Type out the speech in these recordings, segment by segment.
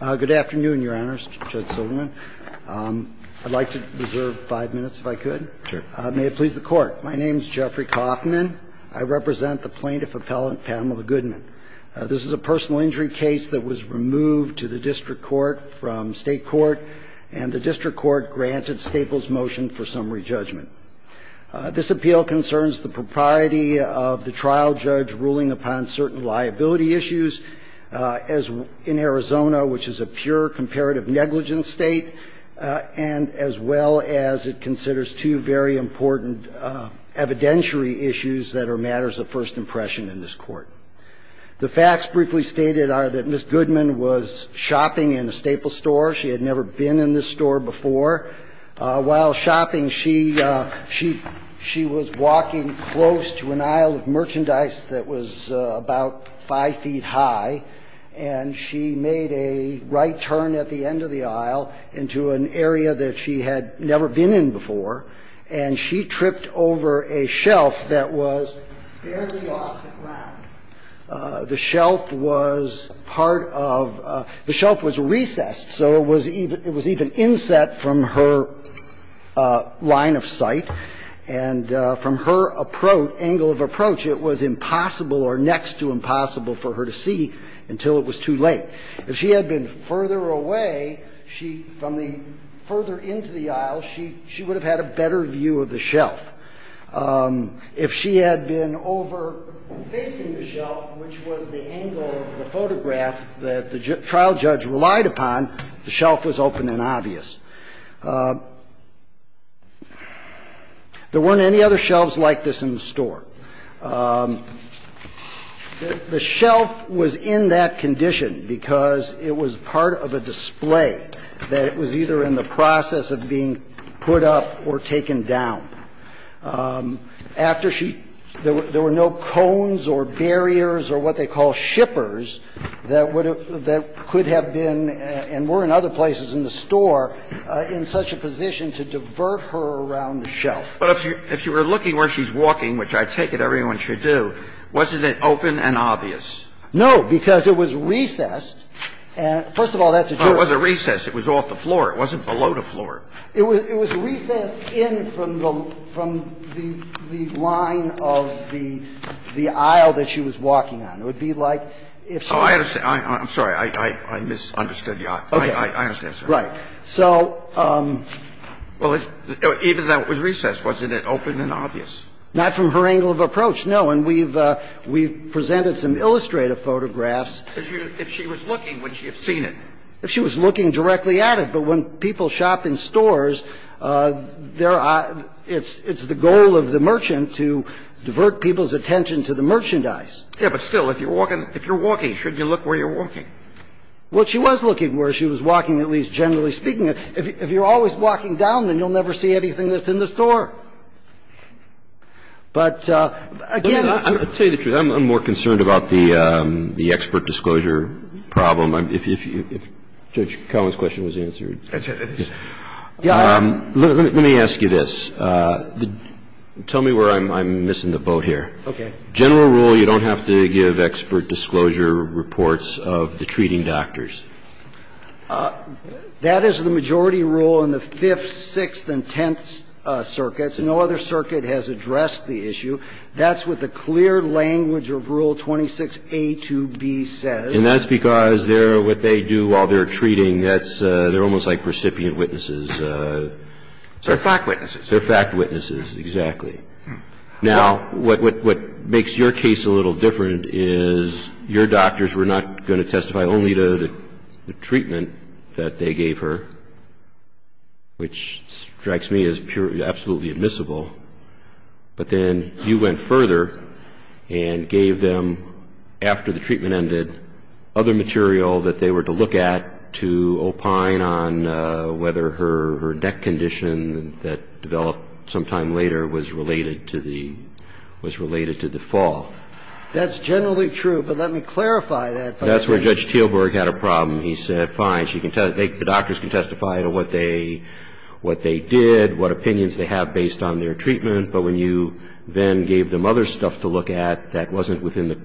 Good afternoon, Your Honors, Judge Silverman. I'd like to reserve five minutes if I could. May it please the Court. My name is Jeffrey Kaufman. I represent the plaintiff appellant Pamela Goodman. This is a personal injury case that was removed to the District Court from State Court, and the District Court granted Staples' motion for summary judgment. This appeal concerns the propriety of the trial judge ruling upon certain liability issues in Arizona, which is a pure comparative negligence state, and as well as it considers two very important evidentiary issues that are matters of first impression in this Court. The facts briefly stated are that Ms. Goodman was shopping in a Staples store. She had never been in this store before. While shopping, she was walking close to an aisle of merchandise that was about five feet high, and she made a right turn at the end of the aisle into an area that she had never been in before. And she tripped over a shelf that was barely off the ground. The shelf was part of the shelf was recessed, so it was even inset from her line of sight, and from her approach, angle of approach, it was impossible or next to impossible for her to see until it was too late. If she had been further away, she, from the further into the aisle, she would have had a better view of the shelf. If she had been over facing the shelf, which was the angle of the photograph that the trial judge relied upon, the shelf was open and obvious. There weren't any other shelves like this in the store. The shelf was in that condition because it was part of a display that it was either in the process of being put up or taken down. After she – there were no cones or barriers or what they call shippers that would have – that could have been, and were in other places in the store, in such a position to divert her around the shelf. But if you were looking where she's walking, which I take it everyone should do, wasn't it open and obvious? No, because it was recessed. First of all, that's a jurisdiction. No, it wasn't recessed. It was off the floor. It wasn't below the floor. It was recessed in from the line of the aisle that she was walking on. It would be like if she was – Oh, I understand. I'm sorry. I misunderstood you. I understand, sir. Right. So – Well, even though it was recessed, wasn't it open and obvious? Not from her angle of approach, no. And we've presented some illustrative photographs. If she was looking, would she have seen it? If she was looking directly at it. But when people shop in stores, it's the goal of the merchant to divert people's attention to the merchandise. Yes, but still, if you're walking – if you're walking, shouldn't you look where you're walking? Well, she was looking where she was walking, at least generally speaking. If you're always walking down, then you'll never see anything that's in the store. But again – I'll tell you the truth. I'm more concerned about the expert disclosure problem. If Judge Collins' question was answered. Let me ask you this. Tell me where I'm missing the boat here. Okay. General rule, you don't have to give expert disclosure reports of the treating doctors. That is the majority rule in the Fifth, Sixth, and Tenth Circuits. No other circuit has addressed the issue. That's what the clear language of Rule 26a to b says. And that's because what they do while they're treating, they're almost like recipient witnesses. They're fact witnesses. They're fact witnesses, exactly. Now, what makes your case a little different is your doctors were not going to testify only to the treatment that they gave her, which strikes me as absolutely admissible. But then you went further and gave them, after the treatment ended, other material that they were to look at to opine on whether her neck condition that developed sometime later was related to the fall. That's generally true, but let me clarify that. That's where Judge Teelburg had a problem. He said, fine, the doctors can testify to what they did, what opinions they have based on their treatment, but when you then gave them other stuff to look at that wasn't within the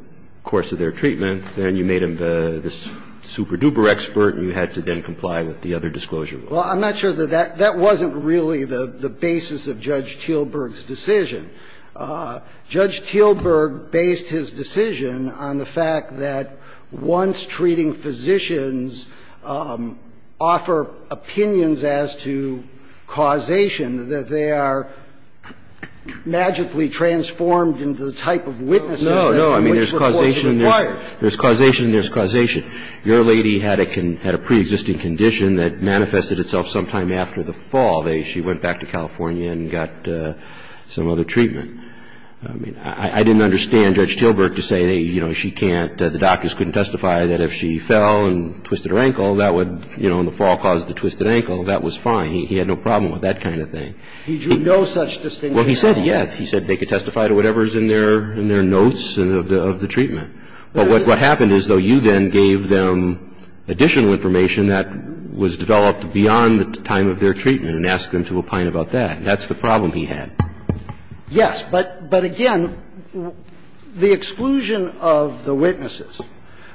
course of their treatment, then you made them this super-duper expert and you had to then comply with the other disclosure rules. Well, I'm not sure that that wasn't really the basis of Judge Teelburg's decision. Judge Teelburg based his decision on the fact that once treating physicians offer opinions as to causation, that they are magically transformed into the type of witnesses that which reports are required. No, no. I mean, there's causation. There's causation. There's causation. Your lady had a preexisting condition that manifested itself sometime after the fall. She went back to California and got some other treatment. I mean, I didn't understand Judge Teelburg to say, you know, she can't, the doctors couldn't testify that if she fell and twisted her ankle, that would, you know, in the fall cause the twisted ankle, that was fine. He had no problem with that kind of thing. He drew no such distinction at all. Well, he said yes. He said they could testify to whatever is in their notes of the treatment. But what happened is, though, you then gave them additional information that was developed beyond the time of their treatment and asked them to opine about that. That's the problem he had. Yes. But again, the exclusion of the witnesses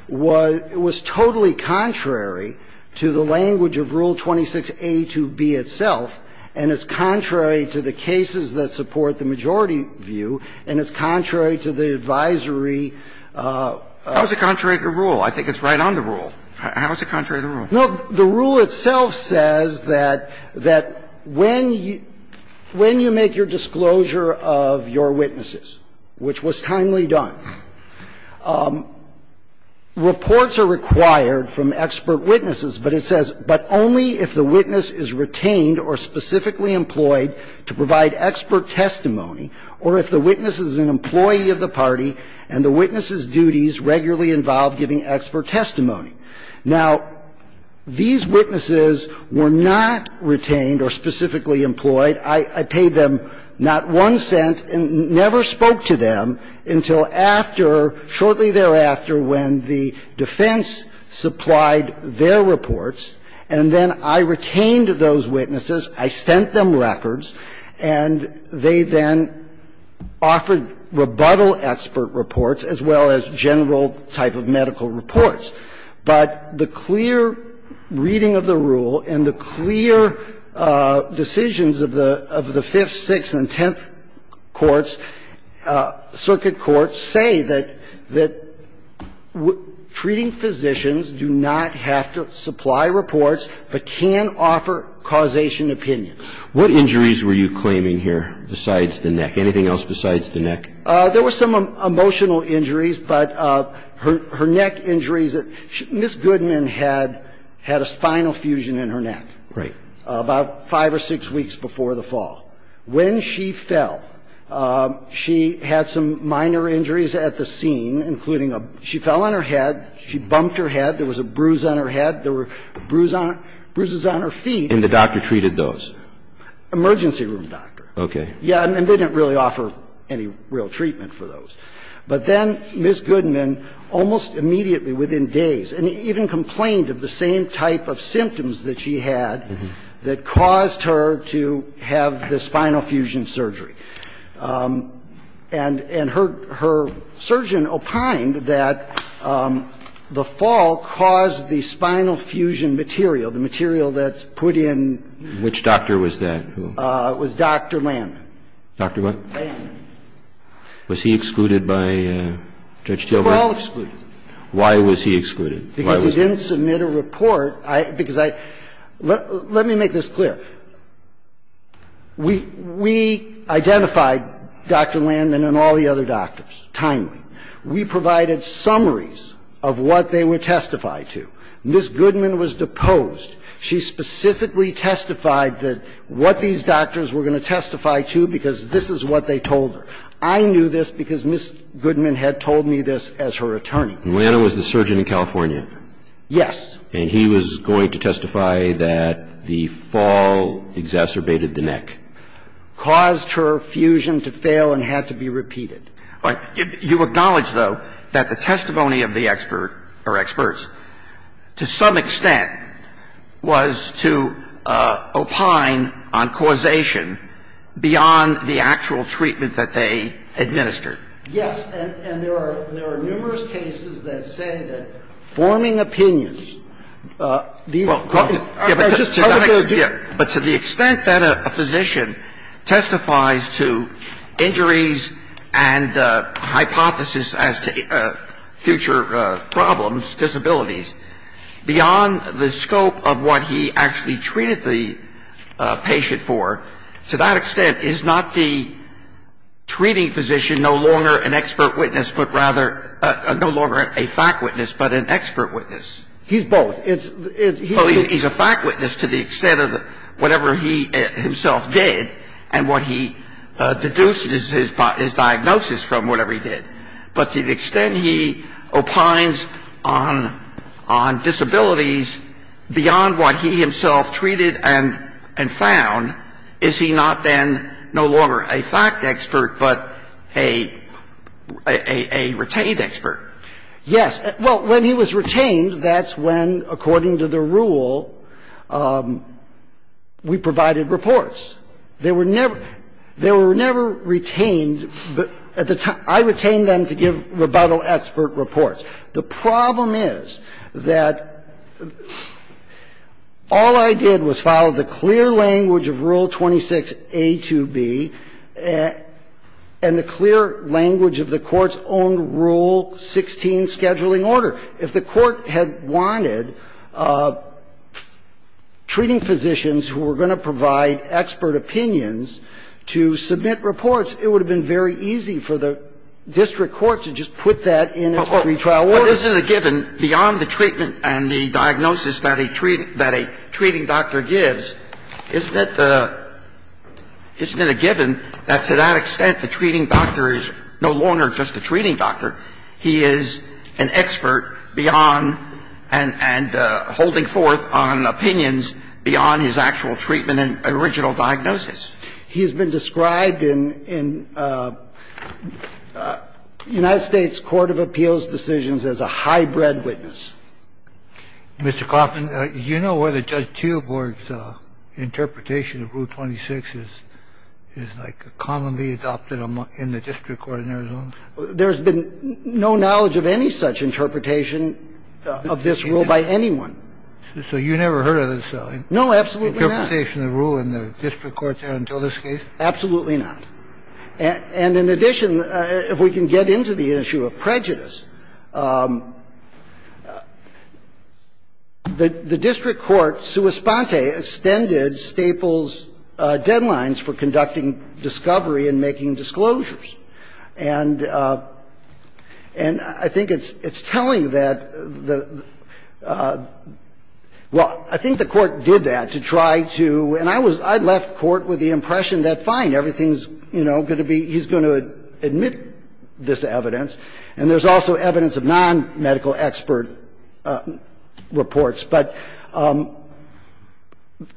was totally contrary to the language of Rule 26a to b itself, and it's contrary to the cases that support the majority view, and it's contrary to the advisory. How is it contrary to the rule? I think it's right on the rule. How is it contrary to the rule? No, the rule itself says that when you make your disclosure of your witnesses, which was timely done, reports are required from expert witnesses. But it says, but only if the witness is retained or specifically employed to provide expert testimony, or if the witness is an employee of the party and the witness's duties regularly involve giving expert testimony. Now, these witnesses were not retained or specifically employed. I paid them not one cent and never spoke to them until after, shortly thereafter, when the defense supplied their reports, and then I retained those witnesses. I sent them records, and they then offered rebuttal expert reports as well as general type of medical reports. But the clear reading of the rule and the clear decisions of the Fifth, Sixth, and Tenth Courts, circuit courts say that treating physicians do not have to supply reports but can offer causation opinion. What injuries were you claiming here besides the neck? Anything else besides the neck? There were some emotional injuries, but her neck injuries that Ms. Goodman had had a spinal fusion in her neck. Right. About five or six weeks before the fall. When she fell, she had some minor injuries at the scene, including a – she fell on her head. She bumped her head. There was a bruise on her head. There were bruises on her feet. And the doctor treated those? Emergency room doctor. Okay. Yeah, and they didn't really offer any real treatment for those. But then Ms. Goodman, almost immediately within days, and even complained of the same type of symptoms that she had that caused her to have the spinal fusion surgery. And her surgeon opined that the fall caused the spinal fusion material, the material that's put in. Which doctor was that? It was Dr. Landman. Dr. what? Landman. Was he excluded by Judge Taylor? They were all excluded. Why was he excluded? Because he didn't submit a report. Because I – let me make this clear. We identified Dr. Landman and all the other doctors timely. We provided summaries of what they were testified to. Ms. Goodman was deposed. She specifically testified that what these doctors were going to testify to because this is what they told her. I knew this because Ms. Goodman had told me this as her attorney. And Landman was the surgeon in California? Yes. And he was going to testify that the fall exacerbated the neck? Caused her fusion to fail and had to be repeated. You acknowledge, though, that the testimony of the expert or experts, to some extent, was to opine on causation beyond the actual treatment that they administered? Yes. And there are numerous cases that say that forming opinions, these are just part of their view. But to the extent that a physician testifies to injuries and hypotheses as to future problems, disabilities, beyond the scope of what he actually treated the patient for, to that extent, is not the treating physician no longer an expert witness, but rather – no longer a fact witness, but an expert witness? He's both. He's a fact witness to the extent of whatever he himself did and what he deduced is his diagnosis from whatever he did. But to the extent he opines on disabilities beyond what he himself treated and found, is he not then no longer a fact expert, but a retained expert? Yes. Well, when he was retained, that's when, according to the rule, we provided reports. They were never – they were never retained. At the time – I retained them to give rebuttal expert reports. The problem is that all I did was follow the clear language of Rule 26a to b and the clear language of the Court's own Rule 16 scheduling order. If the Court had wanted treating physicians who were going to provide expert opinions to submit reports, it would have been very easy for the district court to just put that in its pretrial order. But isn't it a given, beyond the treatment and the diagnosis that a treating doctor gives, isn't it the – isn't it a given that to that extent the treating doctor is no longer just a treating doctor? He is an expert beyond and holding forth on opinions beyond his actual treatment and original diagnosis. He's been described in United States Court of Appeals decisions as a high-bred witness. Mr. Klaffman, do you know whether Judge Teelborg's interpretation of Rule 26 is like commonly adopted in the district court in Arizona? There's been no knowledge of any such interpretation of this rule by anyone. So you never heard of this? No, absolutely not. Interpretation of the rule in the district court there until this case? Absolutely not. And in addition, if we can get into the issue of prejudice, the district court, sua sponte, extended Staples' deadlines for conducting discovery and making disclosures. And I think it's telling that the – well, I think the court did that to try to – and I was – I left court with the impression that, fine, everything's, you know, going to be – he's going to admit this evidence, and there's also evidence of nonmedical expert reports. But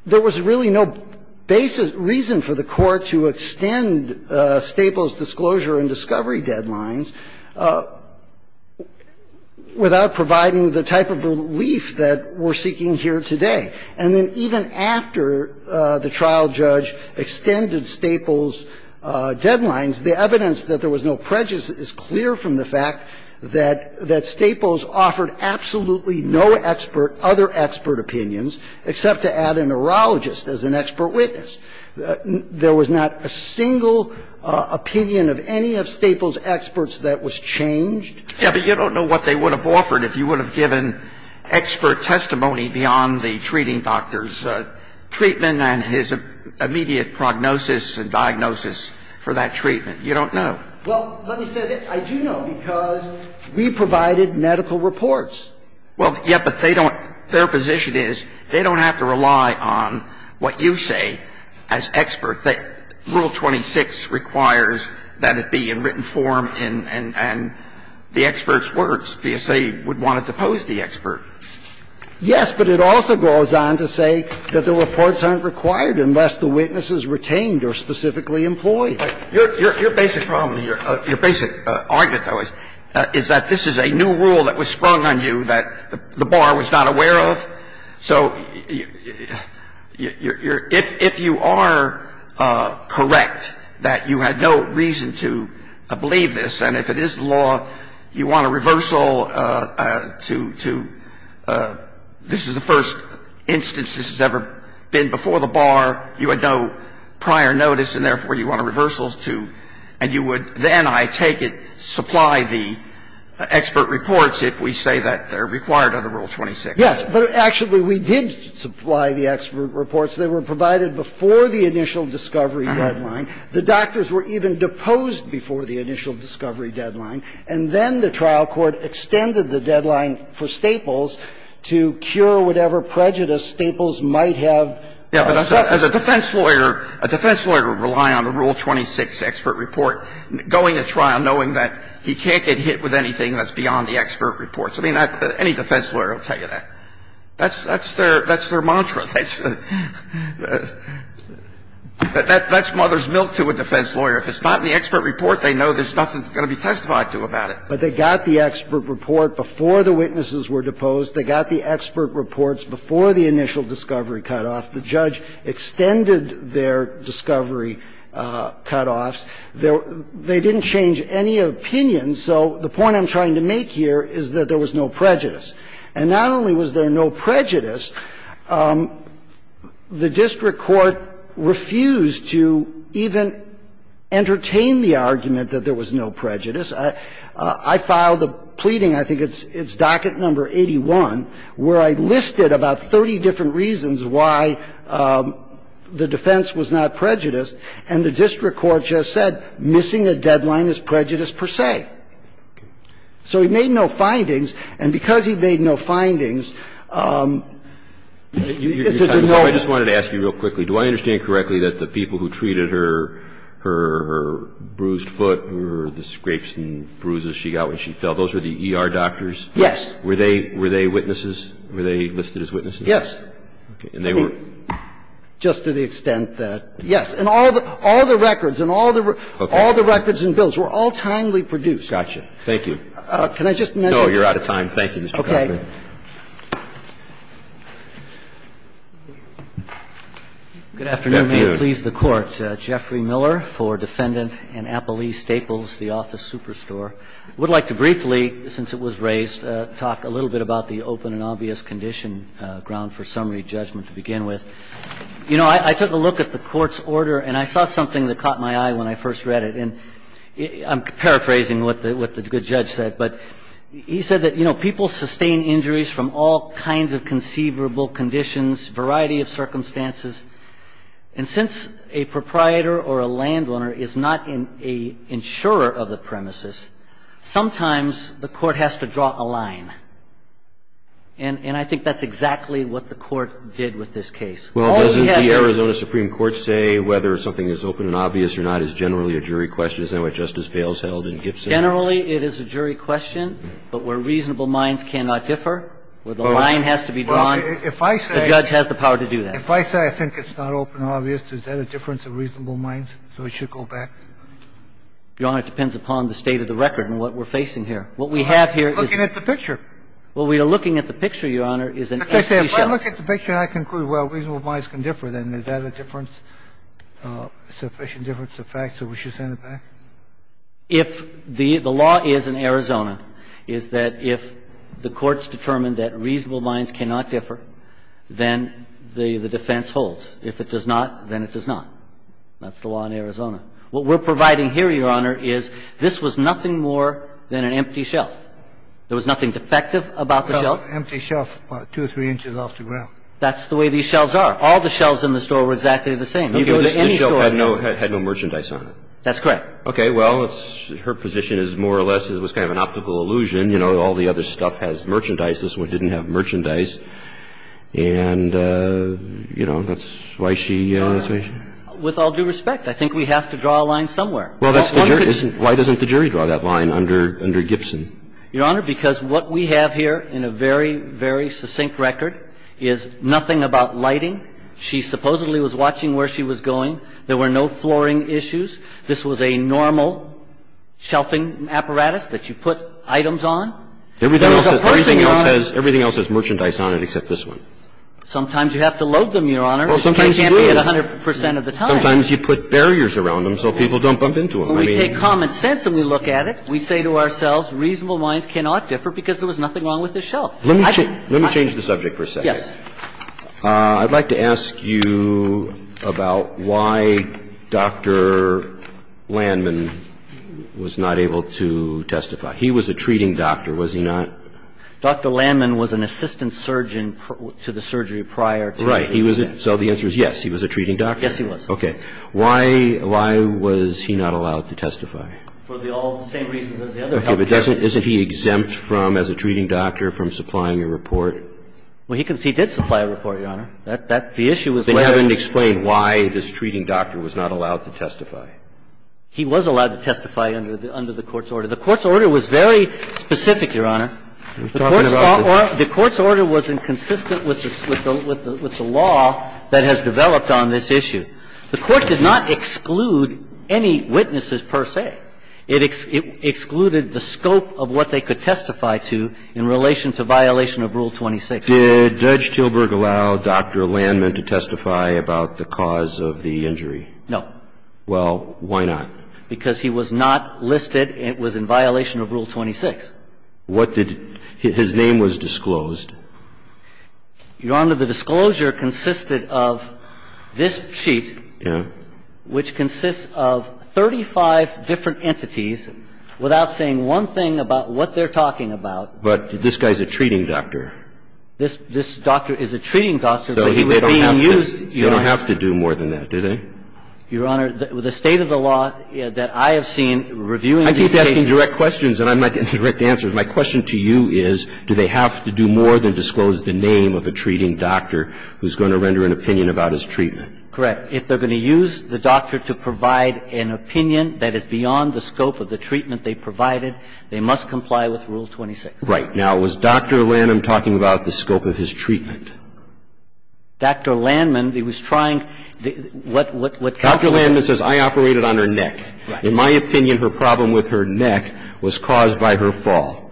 there was really no basis – reason for the court to extend Staples' disclosure and discovery deadlines without providing the type of relief that we're seeking here today. And then even after the trial judge extended Staples' deadlines, the evidence that there was no prejudice is clear from the fact that – that Staples offered absolutely no expert – other expert opinions except to add a neurologist as an expert witness. There was not a single opinion of any of Staples' experts that was changed. Yeah, but you don't know what they would have offered if you would have given expert testimony beyond the treating doctor's treatment and his immediate prognosis and diagnosis for that treatment. You don't know. Well, let me say this. I do know, because we provided medical reports. Well, yeah, but they don't – their position is they don't have to rely on what you say as expert. Rule 26 requires that it be in written form and the expert's words, because they would want to depose the expert. Yes, but it also goes on to say that the reports aren't required unless the witnesses retained or specifically employed. Your basic problem here, your basic argument, though, is that this is a new rule that was sprung on you that the bar was not aware of. So if you are correct that you had no reason to believe this and if it is law, you want a reversal to – this is the first instance this has ever been before the bar. You had no prior notice and, therefore, you want a reversal to – and you would then, I take it, supply the expert reports if we say that they're required under Rule 26. Yes. But actually, we did supply the expert reports. They were provided before the initial discovery deadline. The doctors were even deposed before the initial discovery deadline. And then the trial court extended the deadline for Staples to cure whatever prejudice Staples might have suffered. Yes. But as a defense lawyer, a defense lawyer would rely on a Rule 26 expert report going to trial knowing that he can't get hit with anything that's beyond the expert reports. I mean, any defense lawyer will tell you that. That's their mantra. That's mother's milk to a defense lawyer. If it's not in the expert report, they know there's nothing going to be testified to about it. But they got the expert report before the witnesses were deposed. They got the expert reports before the initial discovery cutoff. The judge extended their discovery cutoffs. They didn't change any opinions. So the point I'm trying to make here is that there was no prejudice. And not only was there no prejudice, the district court refused to even entertain the argument that there was no prejudice. I filed a pleading, I think it's docket number 81, where I listed about 30 different reasons why the defense was not prejudiced, and the district court just said missing a deadline is prejudice per se. And the district court refused to even entertain the argument that there was no prejudice. So he made no findings. And because he made no findings, it's a denial. I just wanted to ask you real quickly, do I understand correctly that the people who treated her bruised foot or the scrapes and bruises she got when she fell, those were the ER doctors? Yes. Were they witnesses? Were they listed as witnesses? Yes. Okay. And they were? Just to the extent that, yes. And all the records and all the records and bills were all timely produced. Gotcha. Thank you. Can I just mention? No, you're out of time. Thank you, Mr. Connelly. Okay. Good afternoon. May it please the Court. Jeffrey Miller for Defendant in Appalee Staples, the office superstore. I would like to briefly, since it was raised, talk a little bit about the open and obvious condition ground for summary judgment to begin with. You know, I took a look at the court's order, and I saw something that caught my eye when I first read it. And I'm paraphrasing what the good judge said, but he said that, you know, people sustain injuries from all kinds of conceivable conditions, variety of circumstances. And since a proprietor or a landowner is not an insurer of the premises, sometimes the court has to draw a line. And I think that's exactly what the court did with this case. Well, doesn't the Arizona Supreme Court say whether something is open and obvious or not is generally a jury question? Is that what Justice Bales held in Gibson? Generally, it is a jury question, but where reasonable minds cannot differ, where the line has to be drawn, the judge has the power to do that. If I say I think it's not open and obvious, is that a difference of reasonable minds, so it should go back? Your Honor, it depends upon the state of the record and what we're facing here. What we have here is the picture. Well, we are looking at the picture, Your Honor, is an empty shell. If I look at the picture and I conclude, well, reasonable minds can differ, then is that a difference, sufficient difference of fact, so we should send it back? If the law is in Arizona, is that if the court's determined that reasonable minds can differ, then the defense holds. If it does not, then it does not. That's the law in Arizona. What we're providing here, Your Honor, is this was nothing more than an empty shelf. There was nothing defective about the shelf. Well, an empty shelf about two or three inches off the ground. That's the way these shelves are. All the shelves in the store were exactly the same. You go to any store. Okay. This shelf had no merchandise on it. That's correct. Okay. Well, her position is more or less it was kind of an optical illusion. You know, all the other stuff has merchandise. This one didn't have merchandise. And, you know, that's why she ---- Your Honor, with all due respect, I think we have to draw a line somewhere. Well, that's the jury. Why doesn't the jury draw that line under Gibson? Your Honor, because what we have here in a very, very succinct record is nothing about lighting. She supposedly was watching where she was going. There were no flooring issues. This was a normal shelving apparatus that you put items on. There was a person on it. Everything else has merchandise on it except this one. Sometimes you have to load them, Your Honor. Well, sometimes you do. It can't be at 100 percent of the time. Sometimes you put barriers around them so people don't bump into them. Well, we take common sense and we look at it. We say to ourselves reasonable minds cannot differ because there was nothing wrong with this shelf. Let me change the subject for a second. Yes. I'd like to ask you about why Dr. Landman was not able to testify. He was a treating doctor. Was he not? Dr. Landman was an assistant surgeon to the surgery prior. Right. So the answer is yes. He was a treating doctor. Yes, he was. Okay. Why was he not allowed to testify? For the all the same reasons as the other health care. Okay. But isn't he exempt from, as a treating doctor, from supplying a report? Well, he did supply a report, Your Honor. The issue was whether he was able to testify. They haven't explained why this treating doctor was not allowed to testify. He was allowed to testify under the court's order. The court's order was very specific, Your Honor. The court's order was inconsistent with the law that has developed on this issue. The court did not exclude any witnesses per se. It excluded the scope of what they could testify to in relation to violation of Rule 26. Did Judge Tilburg allow Dr. Landman to testify about the cause of the injury? No. Well, why not? Because he was not listed. It was in violation of Rule 26. What did his name was disclosed. Your Honor, the disclosure consisted of this sheet. Yes. Which consists of 35 different entities without saying one thing about what they're talking about. But this guy's a treating doctor. This doctor is a treating doctor, but he was being used, Your Honor. They don't have to do more than that, do they? Your Honor, the state of the law that I have seen reviewing these cases. I think they're asking direct questions and I'm not getting direct answers. My question to you is, do they have to do more than disclose the name of a treating doctor who's going to render an opinion about his treatment? Correct. If they're going to use the doctor to provide an opinion that is beyond the scope of the treatment they provided, they must comply with Rule 26. Right. Now, was Dr. Landman talking about the scope of his treatment? Dr. Landman, he was trying to what, what, what. Dr. Landman says I operated on her neck. Right. In my opinion, her problem with her neck was caused by her fall.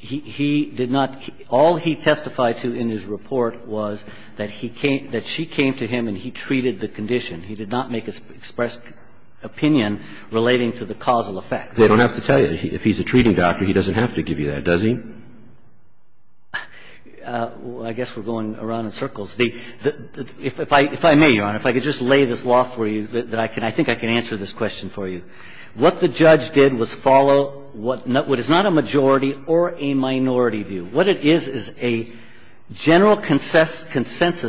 He did not. All he testified to in his report was that he came, that she came to him and he treated the condition. He did not make an expressed opinion relating to the causal effect. They don't have to tell you. If he's a treating doctor, he doesn't have to give you that, does he? Well, I guess we're going around in circles. If I may, Your Honor, if I could just lay this law for you that I can, I think I can answer this question for you. What the judge did was follow what is not a majority or a minority view. What it is is a general consensus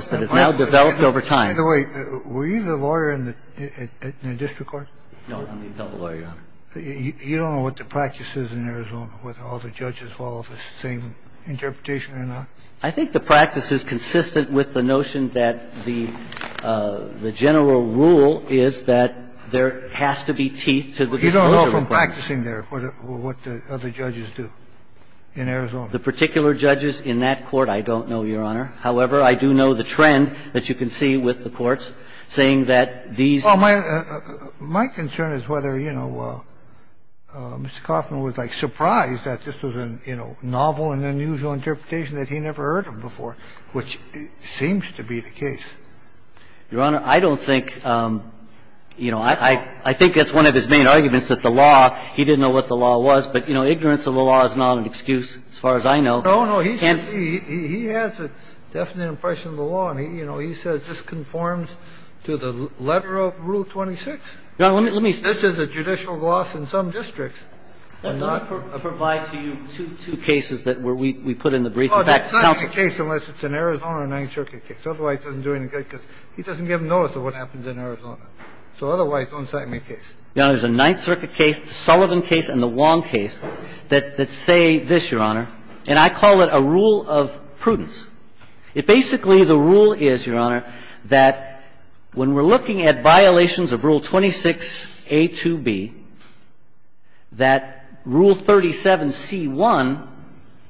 that has now developed over time. By the way, were you the lawyer in the district court? No, I'm the federal lawyer, Your Honor. You don't know what the practice is in Arizona, whether all the judges follow the same interpretation or not? I think the practice is consistent with the notion that the general rule is that there has to be teeth to the disclosure requirement. You don't know from practicing there what the other judges do in Arizona? The particular judges in that court I don't know, Your Honor. However, I do know the trend that you can see with the courts, saying that these. Well, my concern is whether, you know, Mr. Kauffman was, like, surprised that this was a, you know, novel and unusual interpretation that he never heard of before, which seems to be the case. Your Honor, I don't think, you know, I think that's one of his main arguments, that the law, he didn't know what the law was. But, you know, ignorance of the law is not an excuse as far as I know. No, no. He has a definite impression of the law. And he, you know, he says this conforms to the letter of Rule 26. Your Honor, let me say. This is a judicial gloss in some districts. I'm not. Let me provide to you two cases that we put in the brief. In fact, counsel. It's not a case unless it's an Arizona Ninth Circuit case. Otherwise, it doesn't do any good because he doesn't give notice of what happens in Arizona. So otherwise, it's not a case. Your Honor, there's a Ninth Circuit case, the Sullivan case, and the Wong case that say this, Your Honor, and I call it a rule of prudence. It basically, the rule is, Your Honor, that when we're looking at violations of Rule 26a to b, that Rule 37c1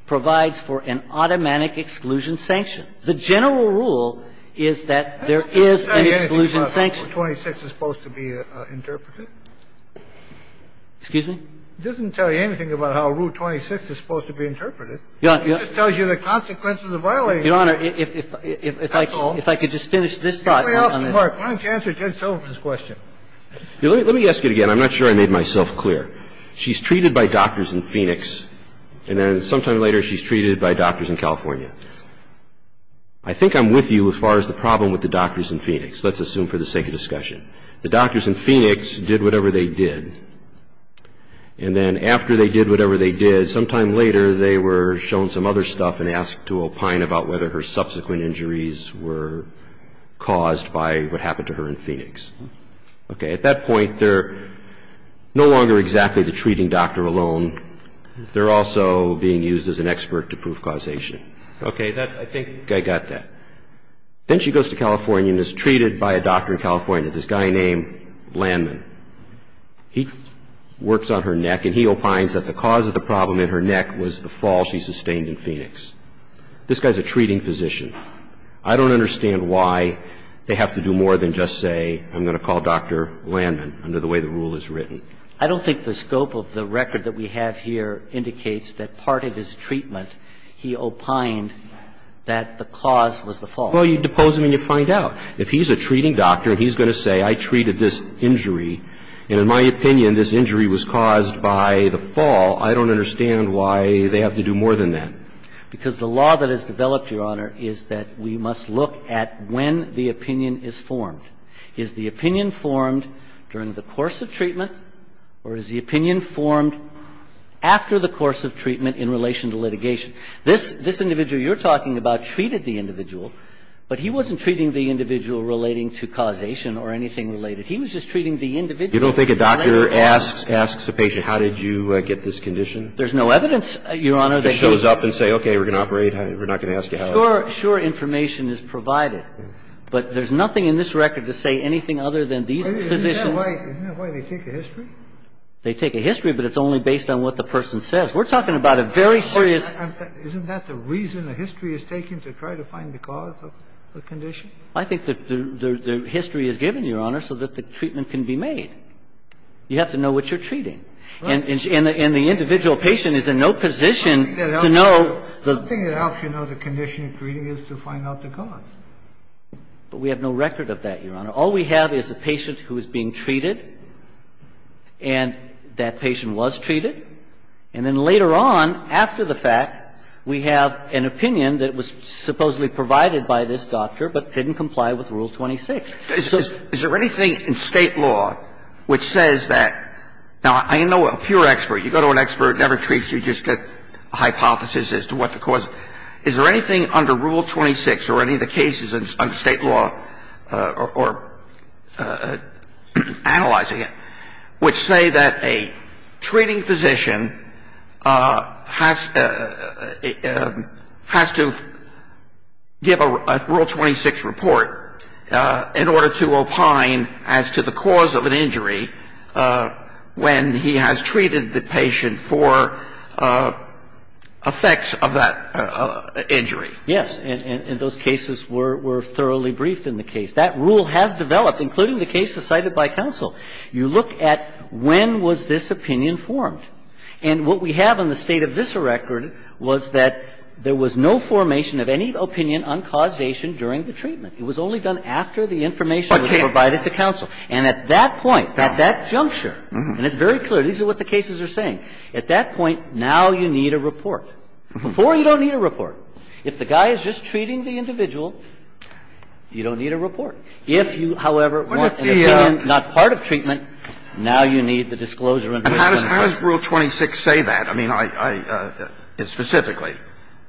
provides for an automatic exclusion sanction. The general rule is that there is an exclusion sanction. Kennedy. It doesn't tell you anything about how Rule 26 is supposed to be interpreted. Excuse me? It doesn't tell you anything about how Rule 26 is supposed to be interpreted. Yeah, yeah. It just tells you the consequences of violating it. Your Honor, if I could just finish this thought on this. Why don't you answer Ted Sullivan's question? Let me ask it again. I'm not sure I made myself clear. She's treated by doctors in Phoenix, and then sometime later she's treated by doctors in California. I think I'm with you as far as the problem with the doctors in Phoenix. Let's assume for the sake of discussion. The doctors in Phoenix did whatever they did. And then after they did whatever they did, sometime later they were shown some other stuff and asked to opine about whether her subsequent injuries were caused by what happened to her in Phoenix. Okay. At that point, they're no longer exactly the treating doctor alone. They're also being used as an expert to prove causation. Okay. I think I got that. Then she goes to California and is treated by a doctor in California, this guy named Landman. He works on her neck and he opines that the cause of the problem in her neck was the fall she sustained in Phoenix. This guy's a treating physician. I don't understand why they have to do more than just say I'm going to call Dr. Landman under the way the rule is written. I don't think the scope of the record that we have here indicates that part of his treatment he opined that the cause was the fall. Well, you depose him and you find out. If he's a treating doctor and he's going to say I treated this injury and in my opinion this injury was caused by the fall, I don't understand why they have to do more than that. Because the law that has developed, Your Honor, is that we must look at when the opinion is formed. Is the opinion formed during the course of treatment or is the opinion formed after the course of treatment in relation to litigation? This individual you're talking about treated the individual, but he wasn't treating the individual relating to causation or anything related. He was just treating the individual. You don't think a doctor asks a patient how did you get this condition? There's no evidence, Your Honor, that he can't. He just shows up and says, okay, we're going to operate. We're not going to ask you how. Sure information is provided, but there's nothing in this record to say anything other than these physicians. Isn't that why they take a history? They take a history, but it's only based on what the person says. We're talking about a very serious ---- Isn't that the reason a history is taken to try to find the cause of the condition? I think the history is given, Your Honor, so that the treatment can be made. You have to know what you're treating. And the individual patient is in no position to know the ---- Something that helps you know the condition you're treating is to find out the cause. But we have no record of that, Your Honor. All we have is a patient who is being treated, and that patient was treated. And then later on, after the fact, we have an opinion that was supposedly provided by this doctor, but didn't comply with Rule 26. So ---- Is there anything in State law which says that ---- now, I know a pure expert. You go to an expert, never treats you, you just get a hypothesis as to what the cause ---- Is there anything under Rule 26 or any of the cases under State law or analyzing it which say that a treating physician has to give a Rule 26 report in order to opine as to the cause of an injury when he has treated the patient for effects of that injury? Yes. And those cases were thoroughly briefed in the case. That rule has developed, including the cases cited by counsel. You look at when was this opinion formed. And what we have in the State of this record was that there was no formation of any opinion on causation during the treatment. It was only done after the information was provided to counsel. And at that point, at that juncture, and it's very clear, these are what the cases are saying. At that point, now you need a report. Before, you don't need a report. If the guy is just treating the individual, you don't need a report. If you, however, want an opinion not part of treatment, now you need the disclosure of an opinion. And how does Rule 26 say that? I mean, I ---- specifically.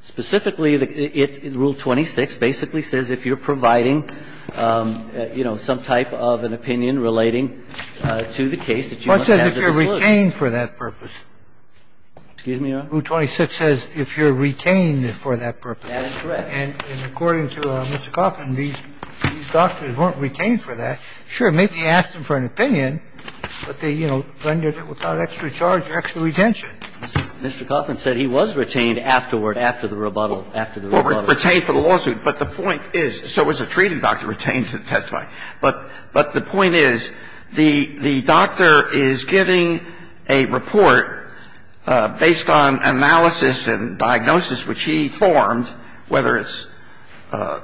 Specifically, it's ---- Rule 26 basically says if you're providing, you know, some type of an opinion relating to the case that you must have the disclosure. What says if you're retained for that purpose? Excuse me, Your Honor? Rule 26 says if you're retained for that purpose. That is correct. And according to Mr. Coffman, these doctors weren't retained for that. Sure, maybe he asked them for an opinion, but they, you know, rendered it without extra charge or extra retention. Mr. Coffman said he was retained afterward, after the rebuttal. After the rebuttal. Retained for the lawsuit. But the point is, so was the treating doctor retained to testify. But the point is, the doctor is giving a report based on analysis and diagnosis which he formed, whether it's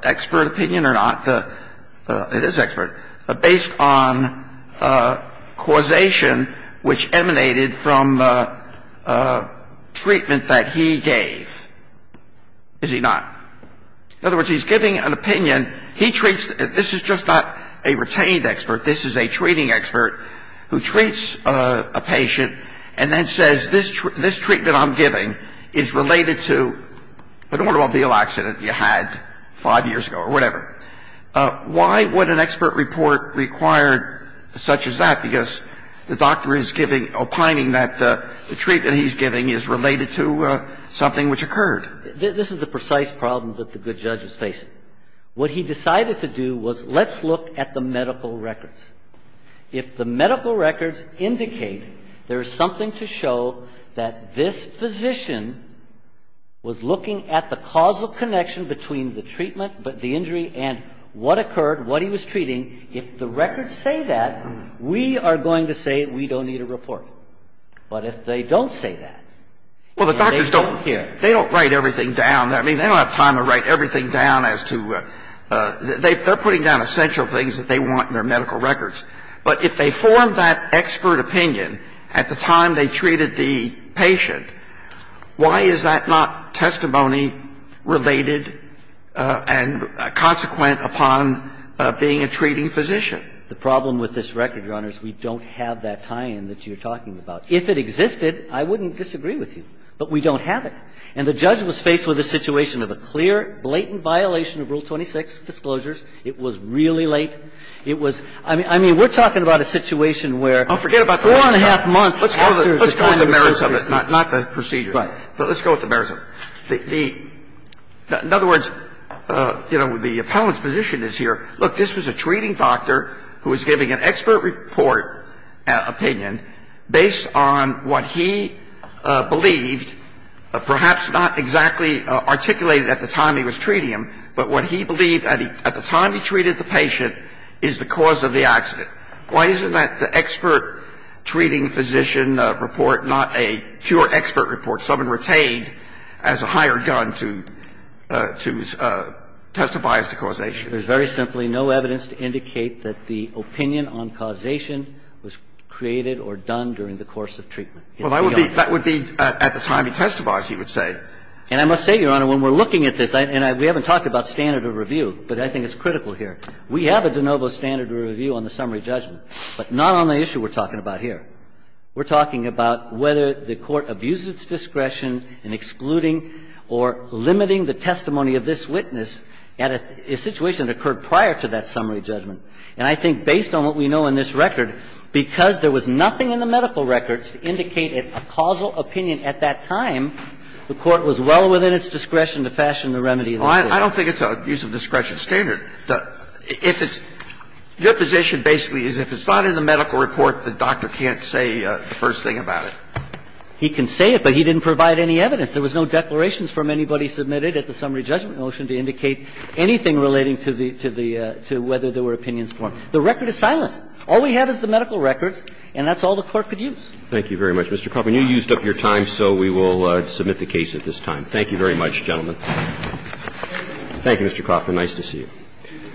expert opinion or not. It is expert. But based on causation which emanated from the treatment that he gave, is he not? In other words, he's giving an opinion. He treats the – this is just not a retained expert. This is a treating expert who treats a patient and then says this treatment I'm giving is related to an automobile accident you had five years ago or whatever. Why would an expert report require such as that? Because the doctor is giving – opining that the treatment he's giving is related to something which occurred. This is the precise problem that the good judges face. What he decided to do was let's look at the medical records. If the medical records indicate there is something to show that this physician was looking at the causal connection between the treatment, the injury, and what occurred, what he was treating, if the records say that, we are going to say we don't need a report. But if they don't say that, and they don't care. They don't write everything down. I mean, they don't have time to write everything down as to – they're putting down essential things that they want in their medical records. But if they form that expert opinion at the time they treated the patient, why is that not testimony related and consequent upon being a treating physician? The problem with this record, Your Honor, is we don't have that tie-in that you're talking about. If it existed, I wouldn't disagree with you, but we don't have it. And the judge was faced with a situation of a clear, blatant violation of Rule 26, disclosures. It was really late. It was – I mean, we're talking about a situation where four and a half months after the time of the first treatment. Kennedy. Let's go with the merits of it, not the procedure. Right. Let's go with the merits of it. The – in other words, you know, the appellant's position is here, look, this was a treating doctor who was giving an expert report opinion based on what he believed, perhaps not exactly articulated at the time he was treating him, but what he believed at the time he treated the patient is the cause of the accident. Why isn't that the expert treating physician report not a pure expert report, someone retained as a higher gun to testify as to causation? There's very simply no evidence to indicate that the opinion on causation was created or done during the course of treatment. Well, that would be – that would be at the time he testified, he would say. And I must say, Your Honor, when we're looking at this, and we haven't talked about standard of review, but I think it's critical here. We have a de novo standard of review on the summary judgment, but not on the issue we're talking about here. We're talking about whether the Court abuses its discretion in excluding or limiting the testimony of this witness at a situation that occurred prior to that summary judgment. And I think based on what we know in this record, because there was nothing in the medical report to indicate a causal opinion at that time, the Court was well within its discretion to fashion the remedy. Well, I don't think it's an abuse of discretion standard. If it's – your position basically is if it's not in the medical report, the doctor can't say the first thing about it. He can say it, but he didn't provide any evidence. There was no declarations from anybody submitted at the summary judgment motion to indicate anything relating to the – to whether there were opinions formed. The record is silent. All we have is the medical records, and that's all the Court could use. Thank you very much, Mr. Coffman. You used up your time, so we will submit the case at this time. Thank you very much, gentlemen. Thank you. Thank you, Mr. Coffman. Nice to see you.